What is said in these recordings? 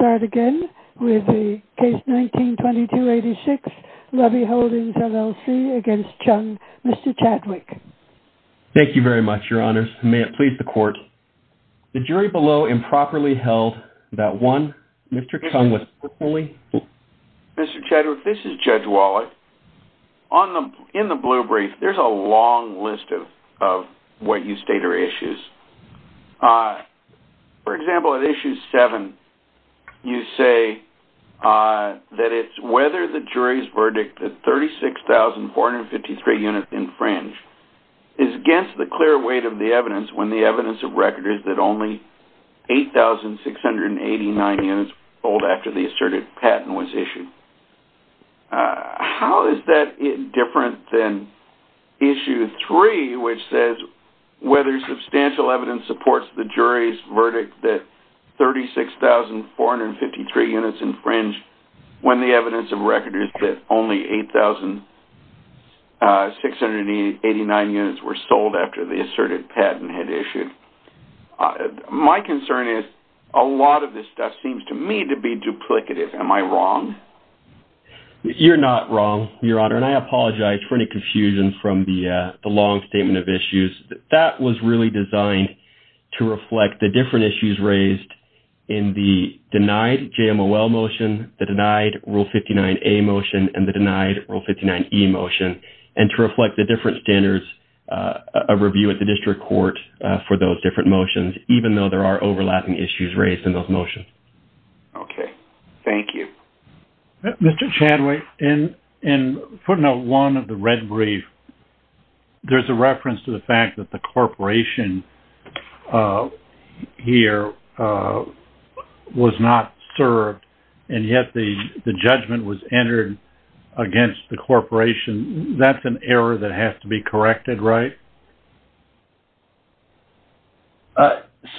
Let's start again with the case 19-22-86, Lubby Holdings LLC v. Chung, Mr. Chadwick. Thank you very much, your honors. May it please the court. The jury below improperly held that one, Mr. Chung was personally... Mr. Chadwick, this is Judge Wallet. In the blue brief, there's a long list of what you state are issues. For example, at issue 7, you say that it's whether the jury's verdict that 36,453 units infringe is against the clear weight of the evidence when the evidence of record is that only 8,689 units were sold after the asserted patent was issued. How is that different than issue 3, which says whether substantial evidence supports the jury's verdict that 36,453 units infringe when the evidence of record is that only 8,689 units were sold after the asserted patent had issued? My concern is a lot of this stuff seems to me to be duplicative. Am I wrong? You're not wrong, your honor, and I apologize for any confusion from the long statement of issues. That was really designed to reflect the different issues raised in the denied JMOL motion, the denied Rule 59A motion, and the denied Rule 59E motion, and to reflect the different standards of review at the district court for those different motions, even though there are overlapping issues raised in those motions. Okay. Thank you. Mr. Chadwick, in footnote 1 of the red brief, there's a reference to the fact that the corporation here was not served, and yet the judgment was entered against the corporation. That's an error that has to be corrected, right?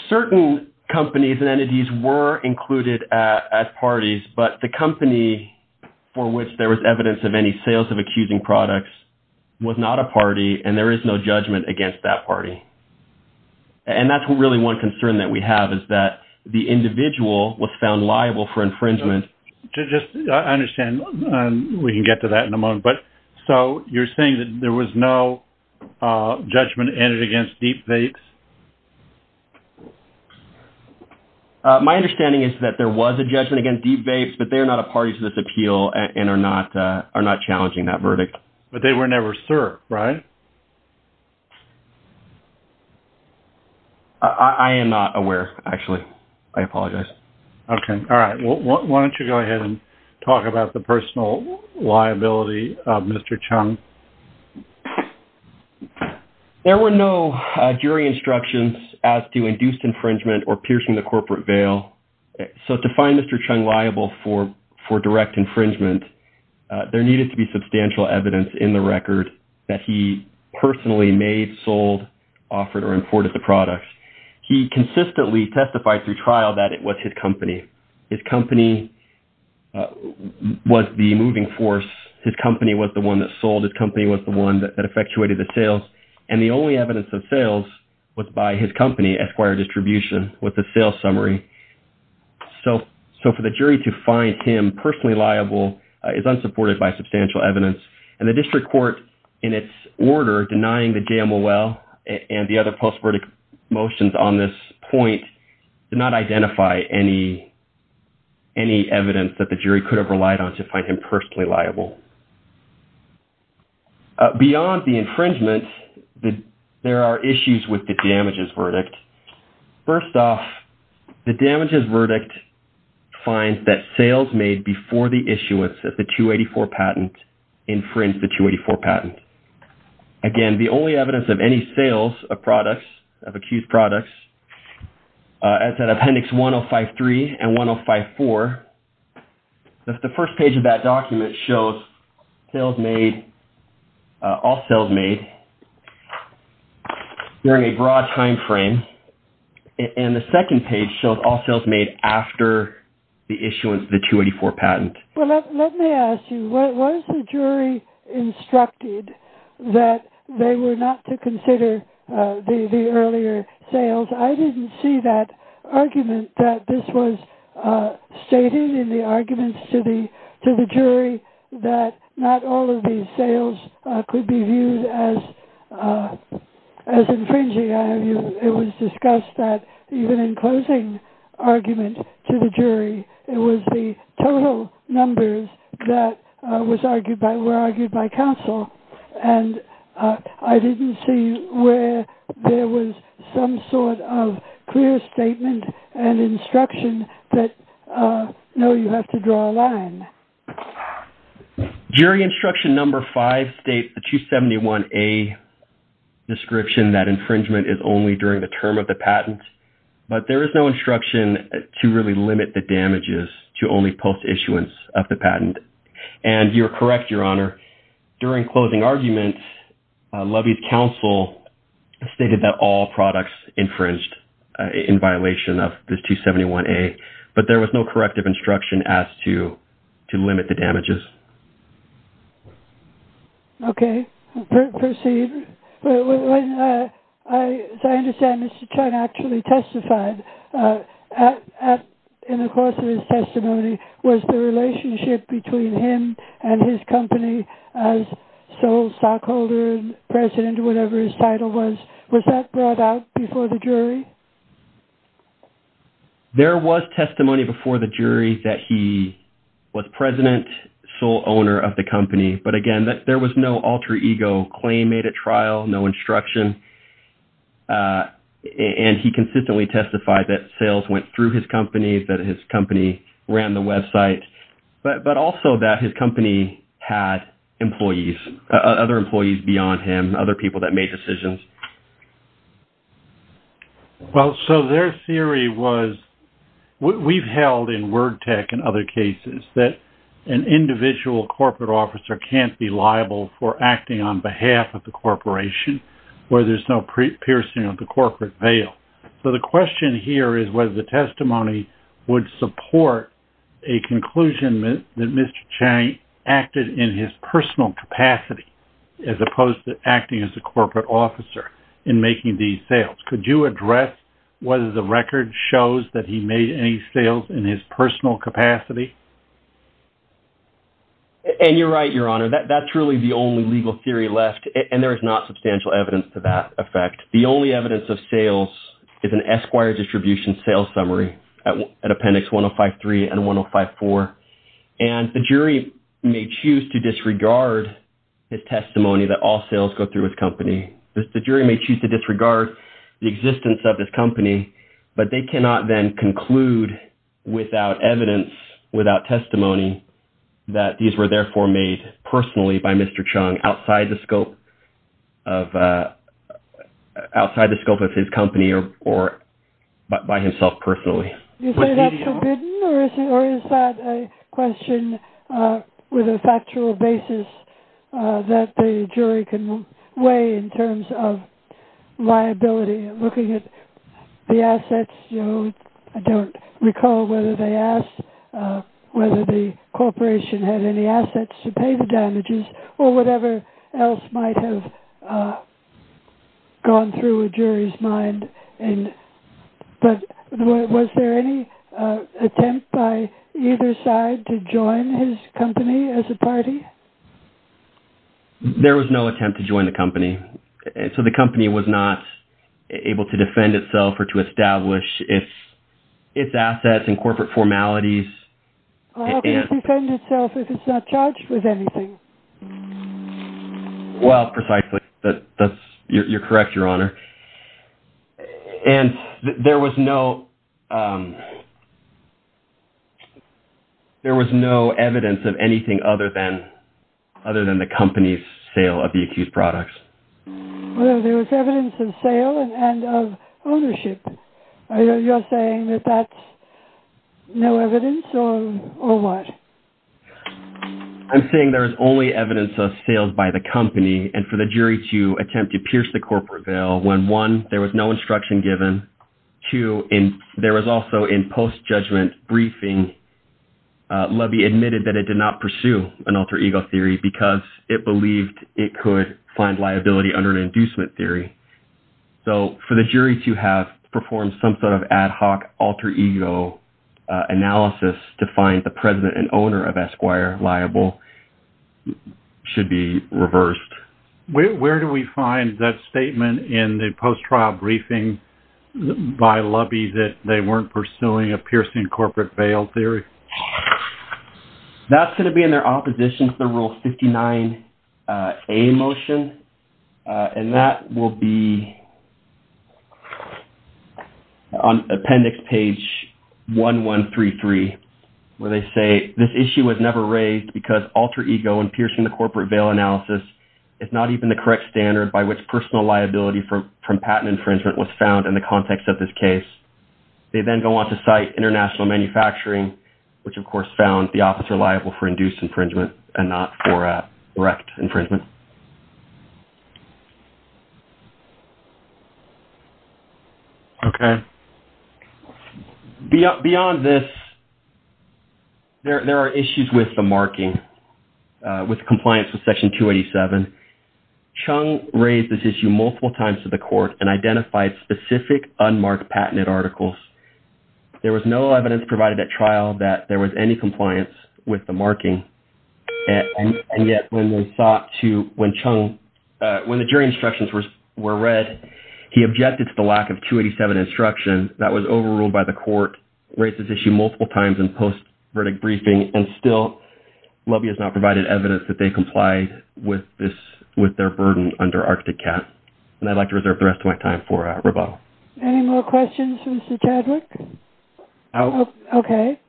Certain companies and entities were included at parties, but the company for which there was evidence of any sales of accusing products was not a party, and there is no judgment against that party. And that's really one concern that we have is that the individual was found liable for infringement. I understand. We can get to that in a moment. So you're saying that there was no judgment entered against Deep Vapes? My understanding is that there was a judgment against Deep Vapes, but they are not a party to this appeal and are not challenging that verdict. But they were never served, right? I am not aware, actually. I apologize. Okay. All right. Why don't you go ahead and talk about the personal liability of Mr. Chung? There were no jury instructions as to induced infringement or piercing the corporate veil. So to find Mr. Chung liable for direct infringement, there needed to be substantial evidence in the record that he personally made, sold, offered, or imported the product. He consistently testified through trial that it was his company. His company was the moving force. His company was the one that sold. His company was the one that effectuated the sales, and the only evidence of sales was by his company, Esquire Distribution, with the sales summary. So for the jury to find him personally liable is unsupported by substantial evidence, and the district court, in its order denying the JMOL and the other post-verdict motions on this point, did not identify any evidence that the jury could have relied on to find him personally liable. Beyond the infringement, there are issues with the damages verdict. First off, the damages verdict finds that sales made before the issuance of the 284 patent infringe the 284 patent. Again, the only evidence of any sales of products, of accused products, as in Appendix 1053 and 1054, the first page of that document shows all sales made during a broad time frame, and the second page shows all sales made after the issuance of the 284 patent. Well, let me ask you, was the jury instructed that they were not to consider the earlier sales? I didn't see that argument, that this was stated in the arguments to the jury, that not all of these sales could be viewed as infringing. It was discussed that even in closing argument to the jury, it was the total numbers that were argued by counsel, and I didn't see where there was some sort of clear statement and instruction that, no, you have to draw a line. Jury instruction number five states the 271A description that infringement is only during the term of the patent, but there is no instruction to really limit the damages to only post-issuance of the patent. And you're correct, Your Honor, during closing argument, Levy's counsel stated that all products infringed in violation of this 271A, but there was no corrective instruction as to limit the damages. Okay. Proceed. As I understand, Mr. Chun actually testified in the course of his testimony, was the relationship between him and his company as sole stockholder, president, whatever his title was, was that brought out before the jury? There was testimony before the jury that he was president, sole owner of the company, but, again, there was no alter ego claim made at trial, no instruction, and he consistently testified that sales went through his company, that his company ran the website, but also that his company had employees, other employees beyond him, other people that made decisions. Well, so their theory was, we've held in Word Tech and other cases, that an individual corporate officer can't be liable for acting on behalf of the corporation where there's no piercing of the corporate veil. So the question here is whether the testimony would support a conclusion that Mr. Chang acted in his personal capacity as opposed to acting as a corporate officer in making these sales. Could you address whether the record shows that he made any sales in his personal capacity? And you're right, Your Honor, that's really the only legal theory left, and there is not substantial evidence to that effect. The only evidence of sales is an Esquire distribution sales summary at Appendix 1053 and 1054, and the jury may choose to disregard his testimony that all sales go through his company. The jury may choose to disregard the existence of his company, but they cannot then conclude without evidence, without testimony, that these were therefore made personally by Mr. Chang outside the scope of his company or by himself personally. Is that forbidden or is that a question with a factual basis that the jury can weigh in terms of liability? Looking at the assets, I don't recall whether they asked whether the corporation had any assets to pay the damages or whatever else might have gone through a jury's mind. But was there any attempt by either side to join his company as a party? There was no attempt to join the company, so the company was not able to defend itself or to establish its assets and corporate formalities. How can it defend itself if it's not charged with anything? Well, precisely. You're correct, Your Honor. And there was no evidence of anything other than the company's sale of the accused products? There was evidence of sale and of ownership. Are you saying that that's no evidence or what? I'm saying there is only evidence of sales by the company and for the jury to attempt to pierce the corporate veil when, one, there was no instruction given, two, there was also in post-judgment briefing, Levy admitted that it did not pursue an alter ego theory because it believed it could find liability under an inducement theory. So for the jury to have performed some sort of ad hoc alter ego analysis to find the president and owner of Esquire liable should be reversed. Where do we find that statement in the post-trial briefing by Levy that they weren't pursuing a piercing corporate veil theory? That's going to be in their opposition to the Rule 59A motion. And that will be on appendix page 1133 where they say this issue was never raised because alter ego in piercing the corporate veil analysis is not even the correct standard by which personal liability from patent infringement was found in the context of this case. They then go on to cite international manufacturing, which of course found the officer liable for induced infringement and not for direct infringement. Okay. Beyond this, there are issues with the marking. With compliance with section 287, Chung raised this issue multiple times to the court and identified specific unmarked patented articles. There was no evidence provided at trial that there was any compliance with the marking. And yet when the jury instructions were read, he objected to the lack of 287 instruction. That was overruled by the court, raised this issue multiple times in post-verdict briefing, and still the lobby has not provided evidence that they complied with their burden under Arctic Cat. And I'd like to reserve the rest of my time for rebuttal. Any more questions for Mr. Chadwick? No. Okay.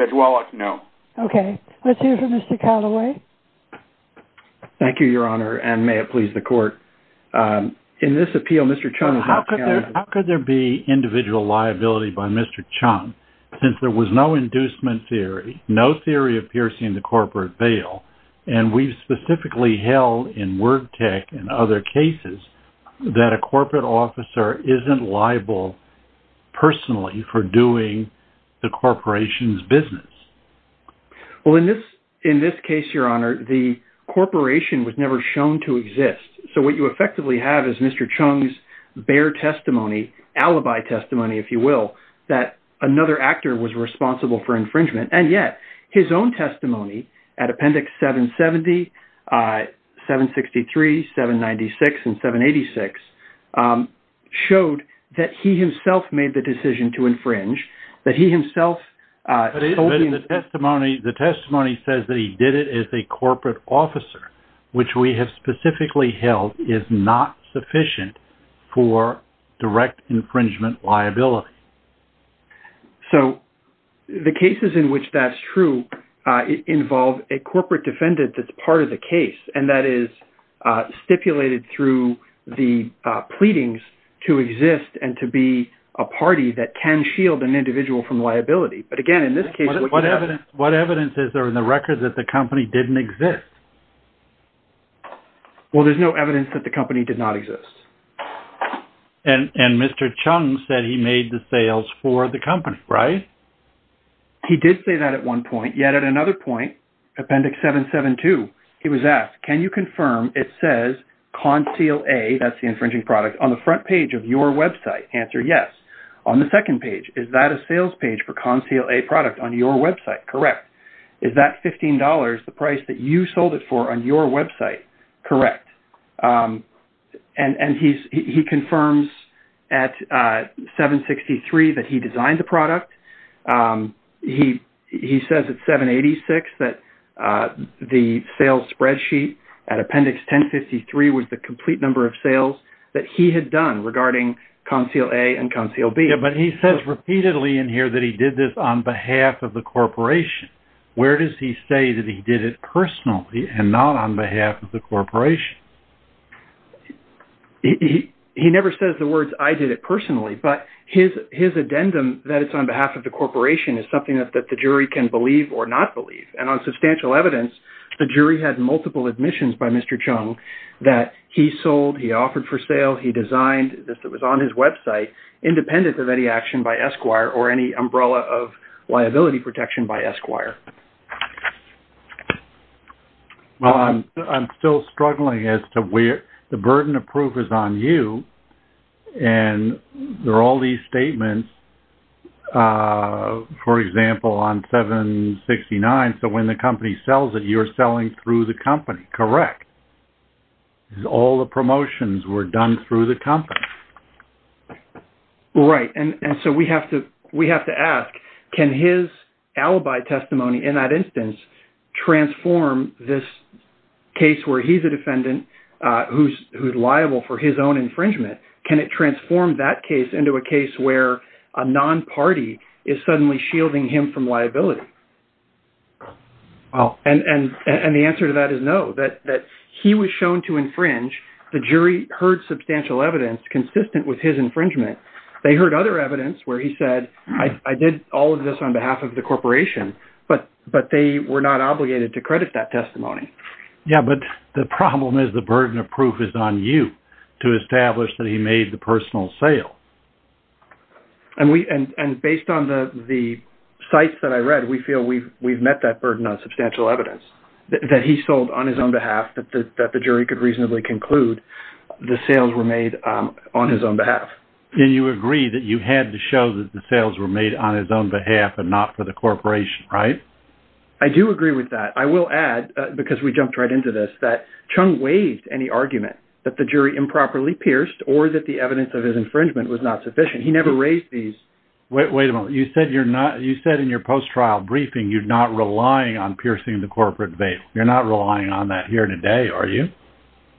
Ms. Wallach, no. Okay. Let's hear from Mr. Callaway. Thank you, Your Honor, and may it please the court. In this appeal, Mr. Chung is not counted. How could there be individual liability by Mr. Chung since there was no inducement theory, no theory of piercing the corporate veil, and we've specifically held in Word Tech and other cases that a corporate officer isn't liable personally for doing the corporation's business? Well, in this case, Your Honor, the corporation was never shown to exist. So what you effectively have is Mr. Chung's bare testimony, alibi testimony, if you will, that another actor was responsible for infringement, and yet his own testimony at Appendix 770, 763, 796, and 786 showed that he himself made the decision to infringe, that he himself told him. But the testimony says that he did it as a corporate officer, which we have specifically held is not sufficient for direct infringement liability. So the cases in which that's true involve a corporate defendant that's part of the case, and that is stipulated through the pleadings to exist and to be a party that can shield an individual from liability. But again, in this case... What evidence is there in the record that the company didn't exist? Well, there's no evidence that the company did not exist. And Mr. Chung said he made the sales for the company, right? He did say that at one point, yet at another point, Appendix 772, he was asked, can you confirm it says Conceal A, that's the infringing product, on the front page of your website? Answer, yes. On the second page, is that a sales page for Conceal A product on your website? Correct. Is that $15, the price that you sold it for on your website? Correct. And he confirms at 763 that he designed the product. He says at 786 that the sales spreadsheet at Appendix 1053 was the complete number of sales that he had done regarding Conceal A and Conceal B. Yeah, but he says repeatedly in here that he did this on behalf of the corporation. Where does he say that he did it personally and not on behalf of the corporation? He never says the words, I did it personally, but his addendum that it's on behalf of the corporation is something that the jury can believe or not believe. And on substantial evidence, the jury had multiple admissions by Mr. Chung that he sold, he offered for sale, he designed, this was on his website, independent of any action by Esquire or any umbrella of liability protection by Esquire. I'm still struggling as to where the burden of proof is on you, and there are all these statements, for example, on 769, so when the company sells it, you're selling through the company. Correct. All the promotions were done through the company. Right, and so we have to ask, can his alibi testimony in that instance transform this case where he's a defendant who's liable for his own infringement, can it transform that case into a case where a non-party is suddenly shielding him from liability? And the answer to that is no, that he was shown to infringe, the jury heard substantial evidence consistent with his infringement. They heard other evidence where he said, I did all of this on behalf of the corporation, but they were not obligated to credit that testimony. Yeah, but the problem is the burden of proof is on you to establish that he made the personal sale. And based on the sites that I read, we feel we've met that burden on substantial evidence that he sold on his own behalf, that the jury could reasonably conclude the sales were made on his own behalf. And you agree that you had to show that the sales were made on his own behalf and not for the corporation, right? I do agree with that. I will add, because we jumped right into this, that Chung waived any argument that the jury improperly pierced or that the evidence of his infringement was not sufficient. He never raised these. Wait a minute. You said in your post-trial briefing you're not relying on piercing the corporate veil. You're not relying on that here today, are you?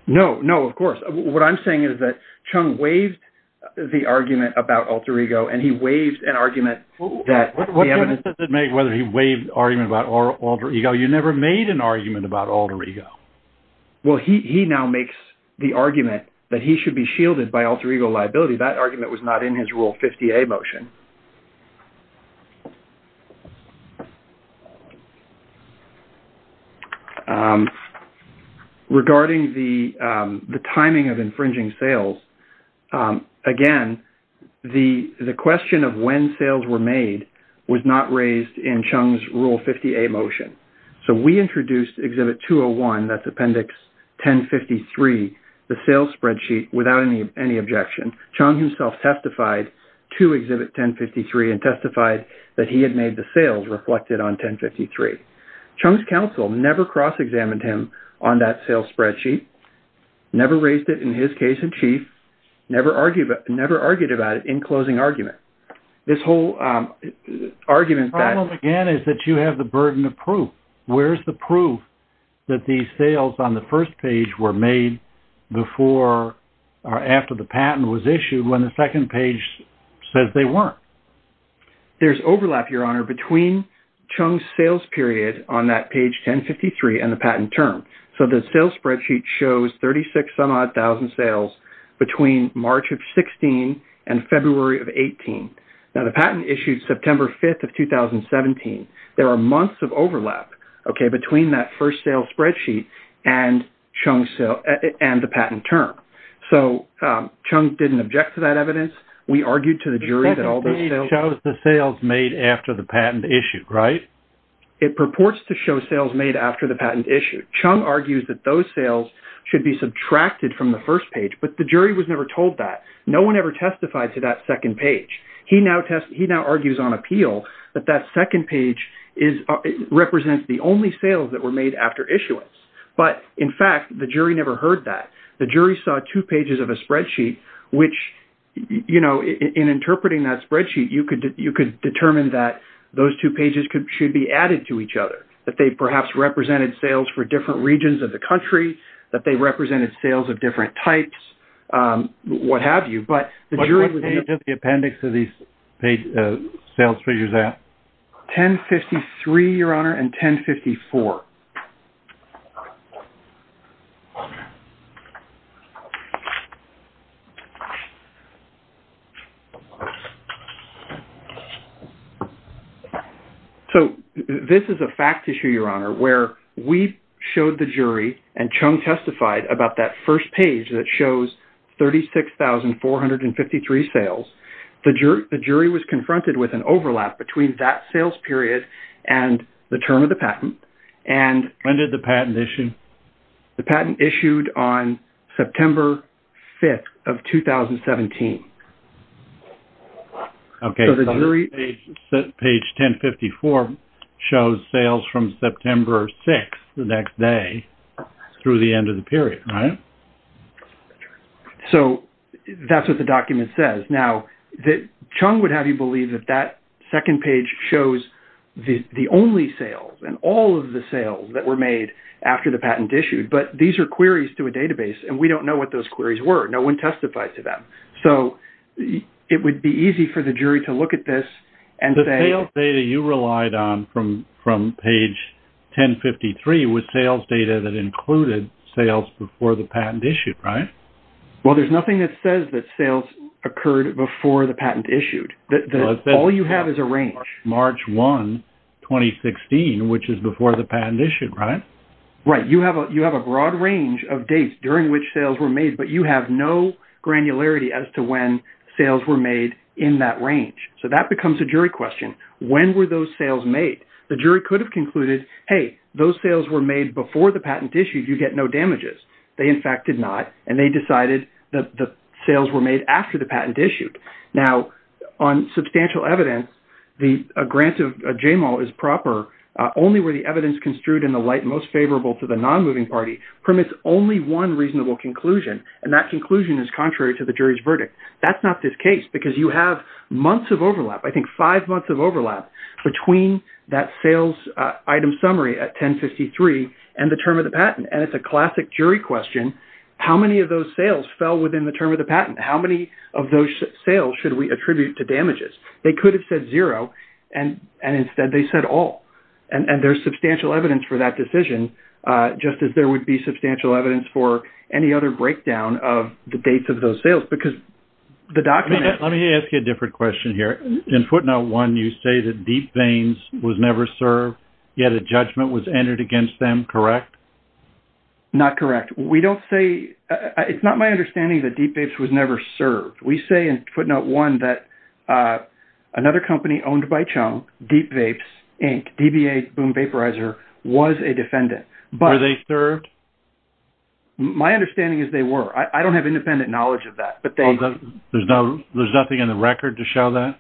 No, no, of course. What I'm saying is that Chung waived the argument about alter ego and he waived an argument that- What does it make whether he waived the argument about alter ego? You never made an argument about alter ego. Well, he now makes the argument that he should be shielded by alter ego liability. Actually, that argument was not in his Rule 50A motion. Regarding the timing of infringing sales, again, the question of when sales were made was not raised in Chung's Rule 50A motion. So we introduced Exhibit 201, that's Appendix 1053, the sales spreadsheet, without any objection. Chung himself testified to Exhibit 1053 and testified that he had made the sales reflected on 1053. Chung's counsel never cross-examined him on that sales spreadsheet, never raised it in his case in chief, never argued about it in closing argument. This whole argument that- The problem, again, is that you have the burden of proof. Where's the proof that these sales on the first page were made before or after the patent was issued when the second page says they weren't? There's overlap, Your Honor, between Chung's sales period on that page 1053 and the patent term. So the sales spreadsheet shows 36-some-odd thousand sales between March of 16 and February of 18. Now, the patent issued September 5th of 2017. There are months of overlap, okay, between that first sales spreadsheet and the patent term. So Chung didn't object to that evidence. We argued to the jury that all those- It shows the sales made after the patent issued, right? It purports to show sales made after the patent issued. Chung argues that those sales should be subtracted from the first page, but the jury was never told that. No one ever testified to that second page. He now argues on appeal that that second page represents the only sales that were made after issuance. But, in fact, the jury never heard that. The jury saw two pages of a spreadsheet, which, you know, in interpreting that spreadsheet, you could determine that those two pages should be added to each other, that they perhaps represented sales for different regions of the country, that they represented sales of different types, what have you. What page of the appendix are these sales figures at? 1053, Your Honor, and 1054. So this is a fact issue, Your Honor, where we showed the jury, and Chung testified about that first page that shows 36,453 sales. The jury was confronted with an overlap between that sales period and the term of the patent, and... When did the patent issue? The patent issued on September 5th of 2017. Okay. So the jury... Page 1054 shows sales from September 6th, the next day, through the end of the period, right? So that's what the document says. Now, Chung would have you believe that that second page shows the only sales and all of the sales that were made after the patent issued, but these are queries to a database, and we don't know what those queries were. No one testified to them. So it would be easy for the jury to look at this and say... The sales data you relied on from page 1053 was sales data that included sales before the patent issued, right? Well, there's nothing that says that sales occurred before the patent issued. All you have is a range. March 1, 2016, which is before the patent issued, right? Right. You have a broad range of dates during which sales were made, but you have no granularity as to when sales were made in that range. So that becomes a jury question. When were those sales made? The jury could have concluded, hey, those sales were made before the patent issued. You get no damages. They, in fact, did not, and they decided that the sales were made after the patent issued. Now, on substantial evidence, the grant of JMAL is proper only where the evidence construed in the light most favorable to the nonmoving party permits only one reasonable conclusion, and that conclusion is contrary to the jury's verdict. That's not the case because you have months of overlap, I think five months of overlap, between that sales item summary at 1053 and the term of the patent, and it's a classic jury question. How many of those sales fell within the term of the patent? How many of those sales should we attribute to damages? They could have said zero, and instead they said all, and there's substantial evidence for that decision, just as there would be substantial evidence for any other breakdown of the dates of those sales because the document... In footnote one, you say that Deep Vapes was never served, yet a judgment was entered against them, correct? Not correct. We don't say... It's not my understanding that Deep Vapes was never served. We say in footnote one that another company owned by Chung, Deep Vapes Inc., DBA Boom Vaporizer, was a defendant, but... Were they served? My understanding is they were. I don't have independent knowledge of that, but they... There's nothing in the record to show that?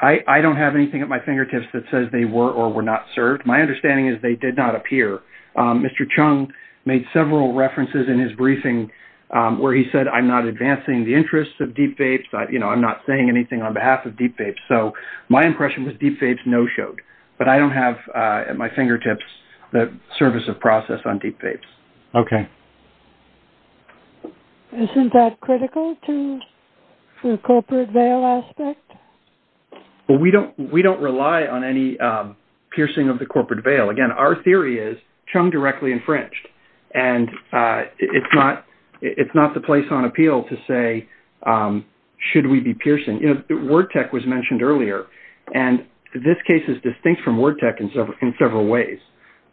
I don't have anything at my fingertips that says they were or were not served. My understanding is they did not appear. Mr. Chung made several references in his briefing where he said, I'm not advancing the interests of Deep Vapes, you know, I'm not saying anything on behalf of Deep Vapes, so my impression was Deep Vapes no-showed, but I don't have at my fingertips the service of process on Deep Vapes. Okay. Isn't that critical to the corporate veil aspect? Well, we don't rely on any piercing of the corporate veil. Again, our theory is Chung directly infringed, and it's not the place on appeal to say, should we be piercing? WordTek was mentioned earlier, and this case is distinct from WordTek in several ways.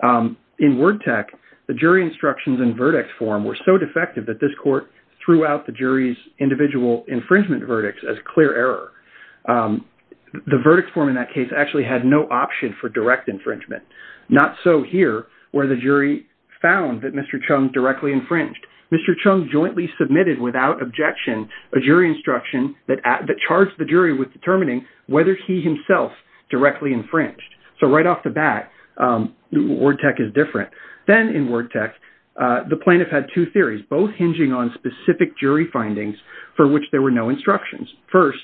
In WordTek, the jury instructions and verdict form were so defective that this court threw out the jury's individual infringement verdicts as clear error. The verdict form in that case actually had no option for direct infringement, not so here where the jury found that Mr. Chung directly infringed. Mr. Chung jointly submitted without objection a jury instruction that charged the jury with determining whether he himself directly infringed. So right off the bat, WordTek is different. Then in WordTek, the plaintiff had two theories, both hinging on specific jury findings for which there were no instructions. First,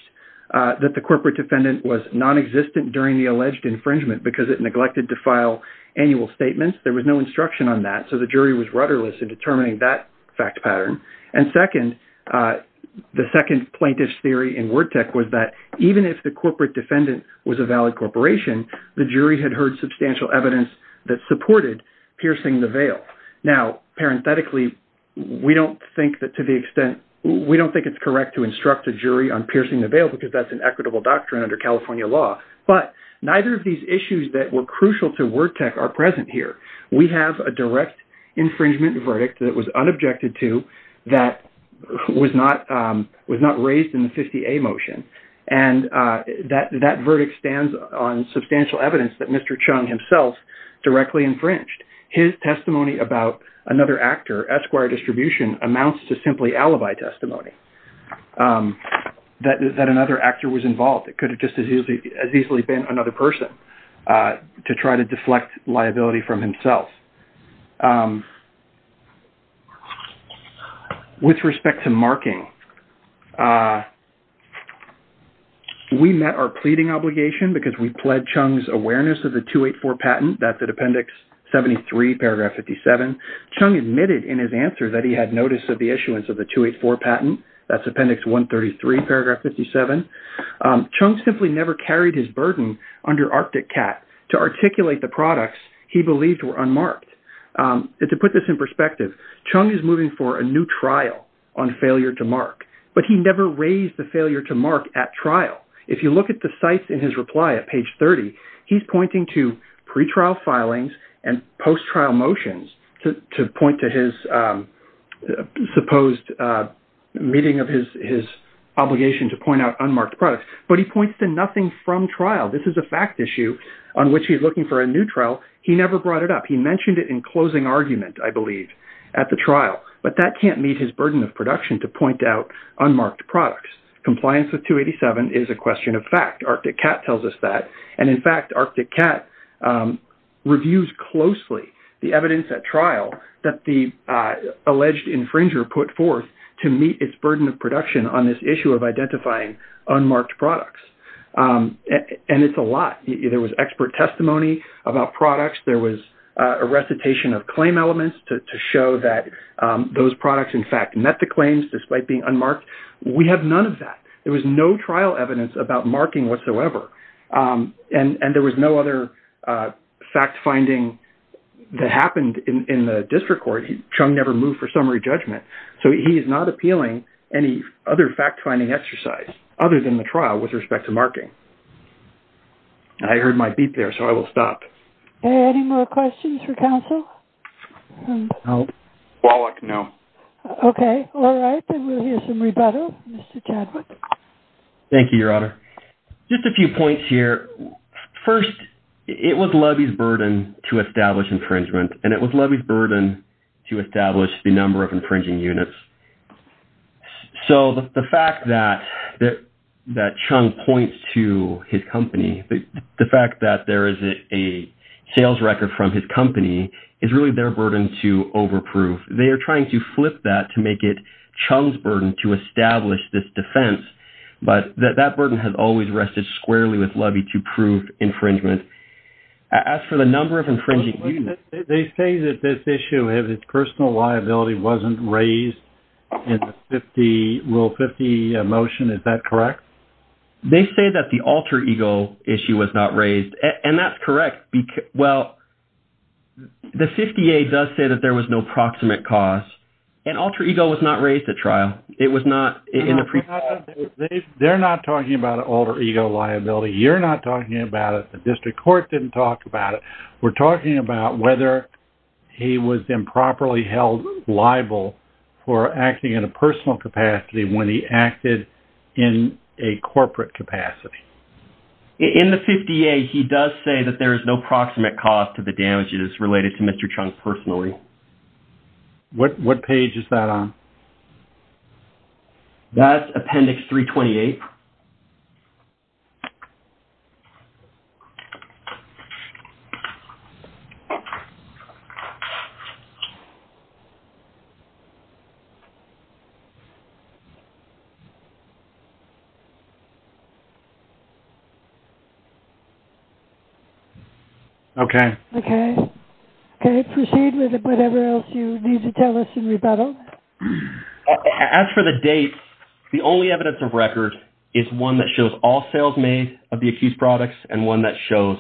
that the corporate defendant was nonexistent during the alleged infringement because it neglected to file annual statements. There was no instruction on that, so the jury was rudderless in determining that fact pattern. And second, the second plaintiff's theory in WordTek was that even if the corporate defendant was a valid corporation, the jury had heard substantial evidence that supported piercing the veil. Now, parenthetically, we don't think that to the extent... We don't think it's correct to instruct a jury on piercing the veil because that's an equitable doctrine under California law, but neither of these issues that were crucial to WordTek are present here. We have a direct infringement verdict that was unobjected to that was not raised in the 50A motion, and that verdict stands on substantial evidence that Mr. Chung himself directly infringed. His testimony about another actor, Esquire Distribution, amounts to simply alibi testimony that another actor was involved. It could have just as easily been another person to try to deflect liability from himself. With respect to marking... We met our pleading obligation because we pled Chung's awareness of the 284 patent. That's at Appendix 73, Paragraph 57. Chung admitted in his answer that he had notice of the issuance of the 284 patent. That's Appendix 133, Paragraph 57. Chung simply never carried his burden under Arctic Cat to articulate the products he believed were unmarked. To put this in perspective, Chung is moving for a new trial on failure to mark, but he never raised the failure to mark at trial. If you look at the cites in his reply at page 30, he's pointing to pretrial filings and post-trial motions to point to his supposed meeting of his obligation to point out unmarked products, but he points to nothing from trial. This is a fact issue on which he's looking for a new trial. He never brought it up. He mentioned it in closing argument, I believe, at the trial, but that can't meet his burden of production to point out unmarked products. Compliance with 287 is a question of fact. Arctic Cat tells us that, and, in fact, Arctic Cat reviews closely the evidence at trial that the alleged infringer put forth to meet its burden of production on this issue of identifying unmarked products. And it's a lot. There was expert testimony about products. There was a recitation of claim elements to show that those products, in fact, met the claims despite being unmarked. We have none of that. There was no trial evidence about marking whatsoever. And there was no other fact-finding that happened in the district court. Chung never moved for summary judgment. So he is not appealing any other fact-finding exercise other than the trial with respect to marking. I heard my beep there, so I will stop. Any more questions for counsel? No. Wallach, no. Okay. All right, then we'll hear some rebuttal. Mr. Chadwick. Thank you, Your Honor. Just a few points here. First, it was Levy's burden to establish infringement, and it was Levy's burden to establish the number of infringing units. So the fact that Chung points to his company, the fact that there is a sales record from his company is really their burden to overprove. They are trying to flip that to make it Chung's burden to establish this defense. But that burden has always rested squarely with Levy to prove infringement. As for the number of infringing units... They say that this issue, if its personal liability wasn't raised in Rule 50 motion, is that correct? They say that the alter ego issue was not raised, and that's correct. Well, the 50A does say that there was no proximate cause, and alter ego was not raised at trial. It was not in the pre-trial. They're not talking about alter ego liability. You're not talking about it. The district court didn't talk about it. We're talking about whether he was improperly held liable for acting in a personal capacity when he acted in a corporate capacity. In the 50A, he does say that there is no proximate cause to the damages related to Mr. Chung personally. What page is that on? That's Appendix 328. Okay. Okay, proceed with whatever else you need to tell us in rebuttal. As for the dates, the only evidence of record is one that shows all sales made of the accused products and one that shows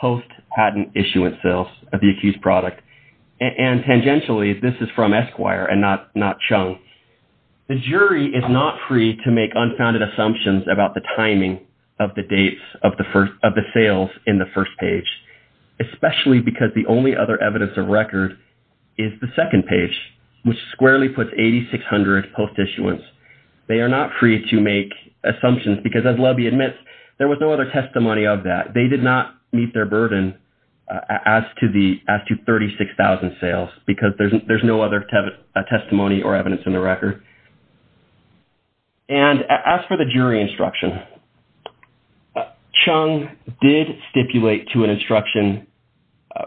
post-patent issuance sales of the accused product. And tangentially, this is from Esquire and not Chung. The jury is not free to make unfounded assumptions about the timing of the sales in the first page, especially because the only other evidence of record is the second page, which squarely puts 8,600 post-issuance. They are not free to make assumptions because, as Lubbe admits, there was no other testimony of that. They did not meet their burden as to 36,000 sales because there's no other testimony or evidence in the record. And as for the jury instruction, Chung did stipulate to an instruction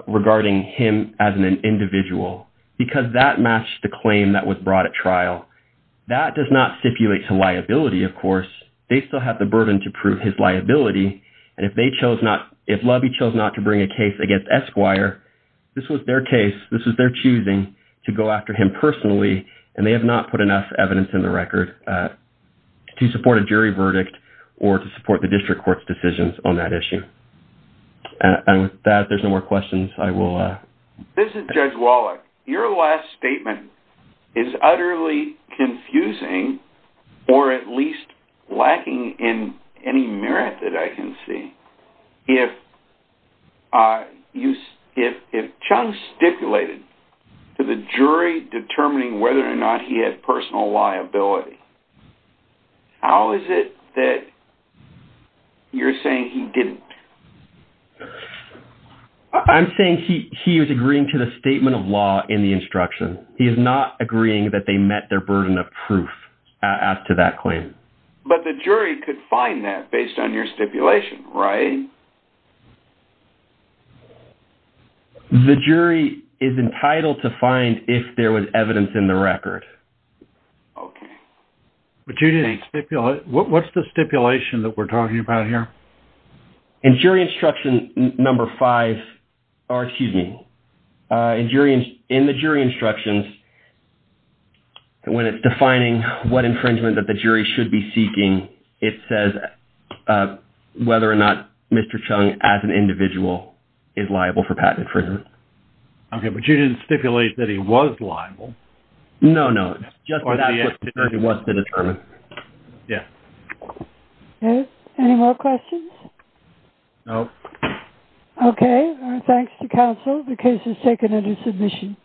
regarding him as an individual because that matched the claim that was brought at trial. That does not stipulate to liability, of course. They still have the burden to prove his liability, and if Lubbe chose not to bring a case against Esquire, this was their case, this was their choosing to go after him personally, and they have not put enough evidence in the record to support a jury verdict or to support the district court's decisions on that issue. And with that, if there's no more questions, I will... This is Judge Wallach. Your last statement is utterly confusing or at least lacking in any merit that I can see. If Chung stipulated to the jury determining whether or not he had personal liability, how is it that you're saying he didn't? I'm saying he was agreeing to the statement of law in the instruction. He is not agreeing that they met their burden of proof as to that claim. But the jury could find that based on your stipulation, right? Okay. The jury is entitled to find if there was evidence in the record. Okay. But you didn't stipulate... What's the stipulation that we're talking about here? In jury instruction number five... Oh, excuse me. In the jury instructions, when it's defining what infringement that the jury should be seeking, it says whether or not Mr. Chung, as an individual, is liable for patented infringement. Okay, but you didn't stipulate that he was liable. No, no. It's just that that's what the jury wants to determine. Yes. Okay. Any more questions? No. Okay. Thanks to counsel. The case is taken under submission.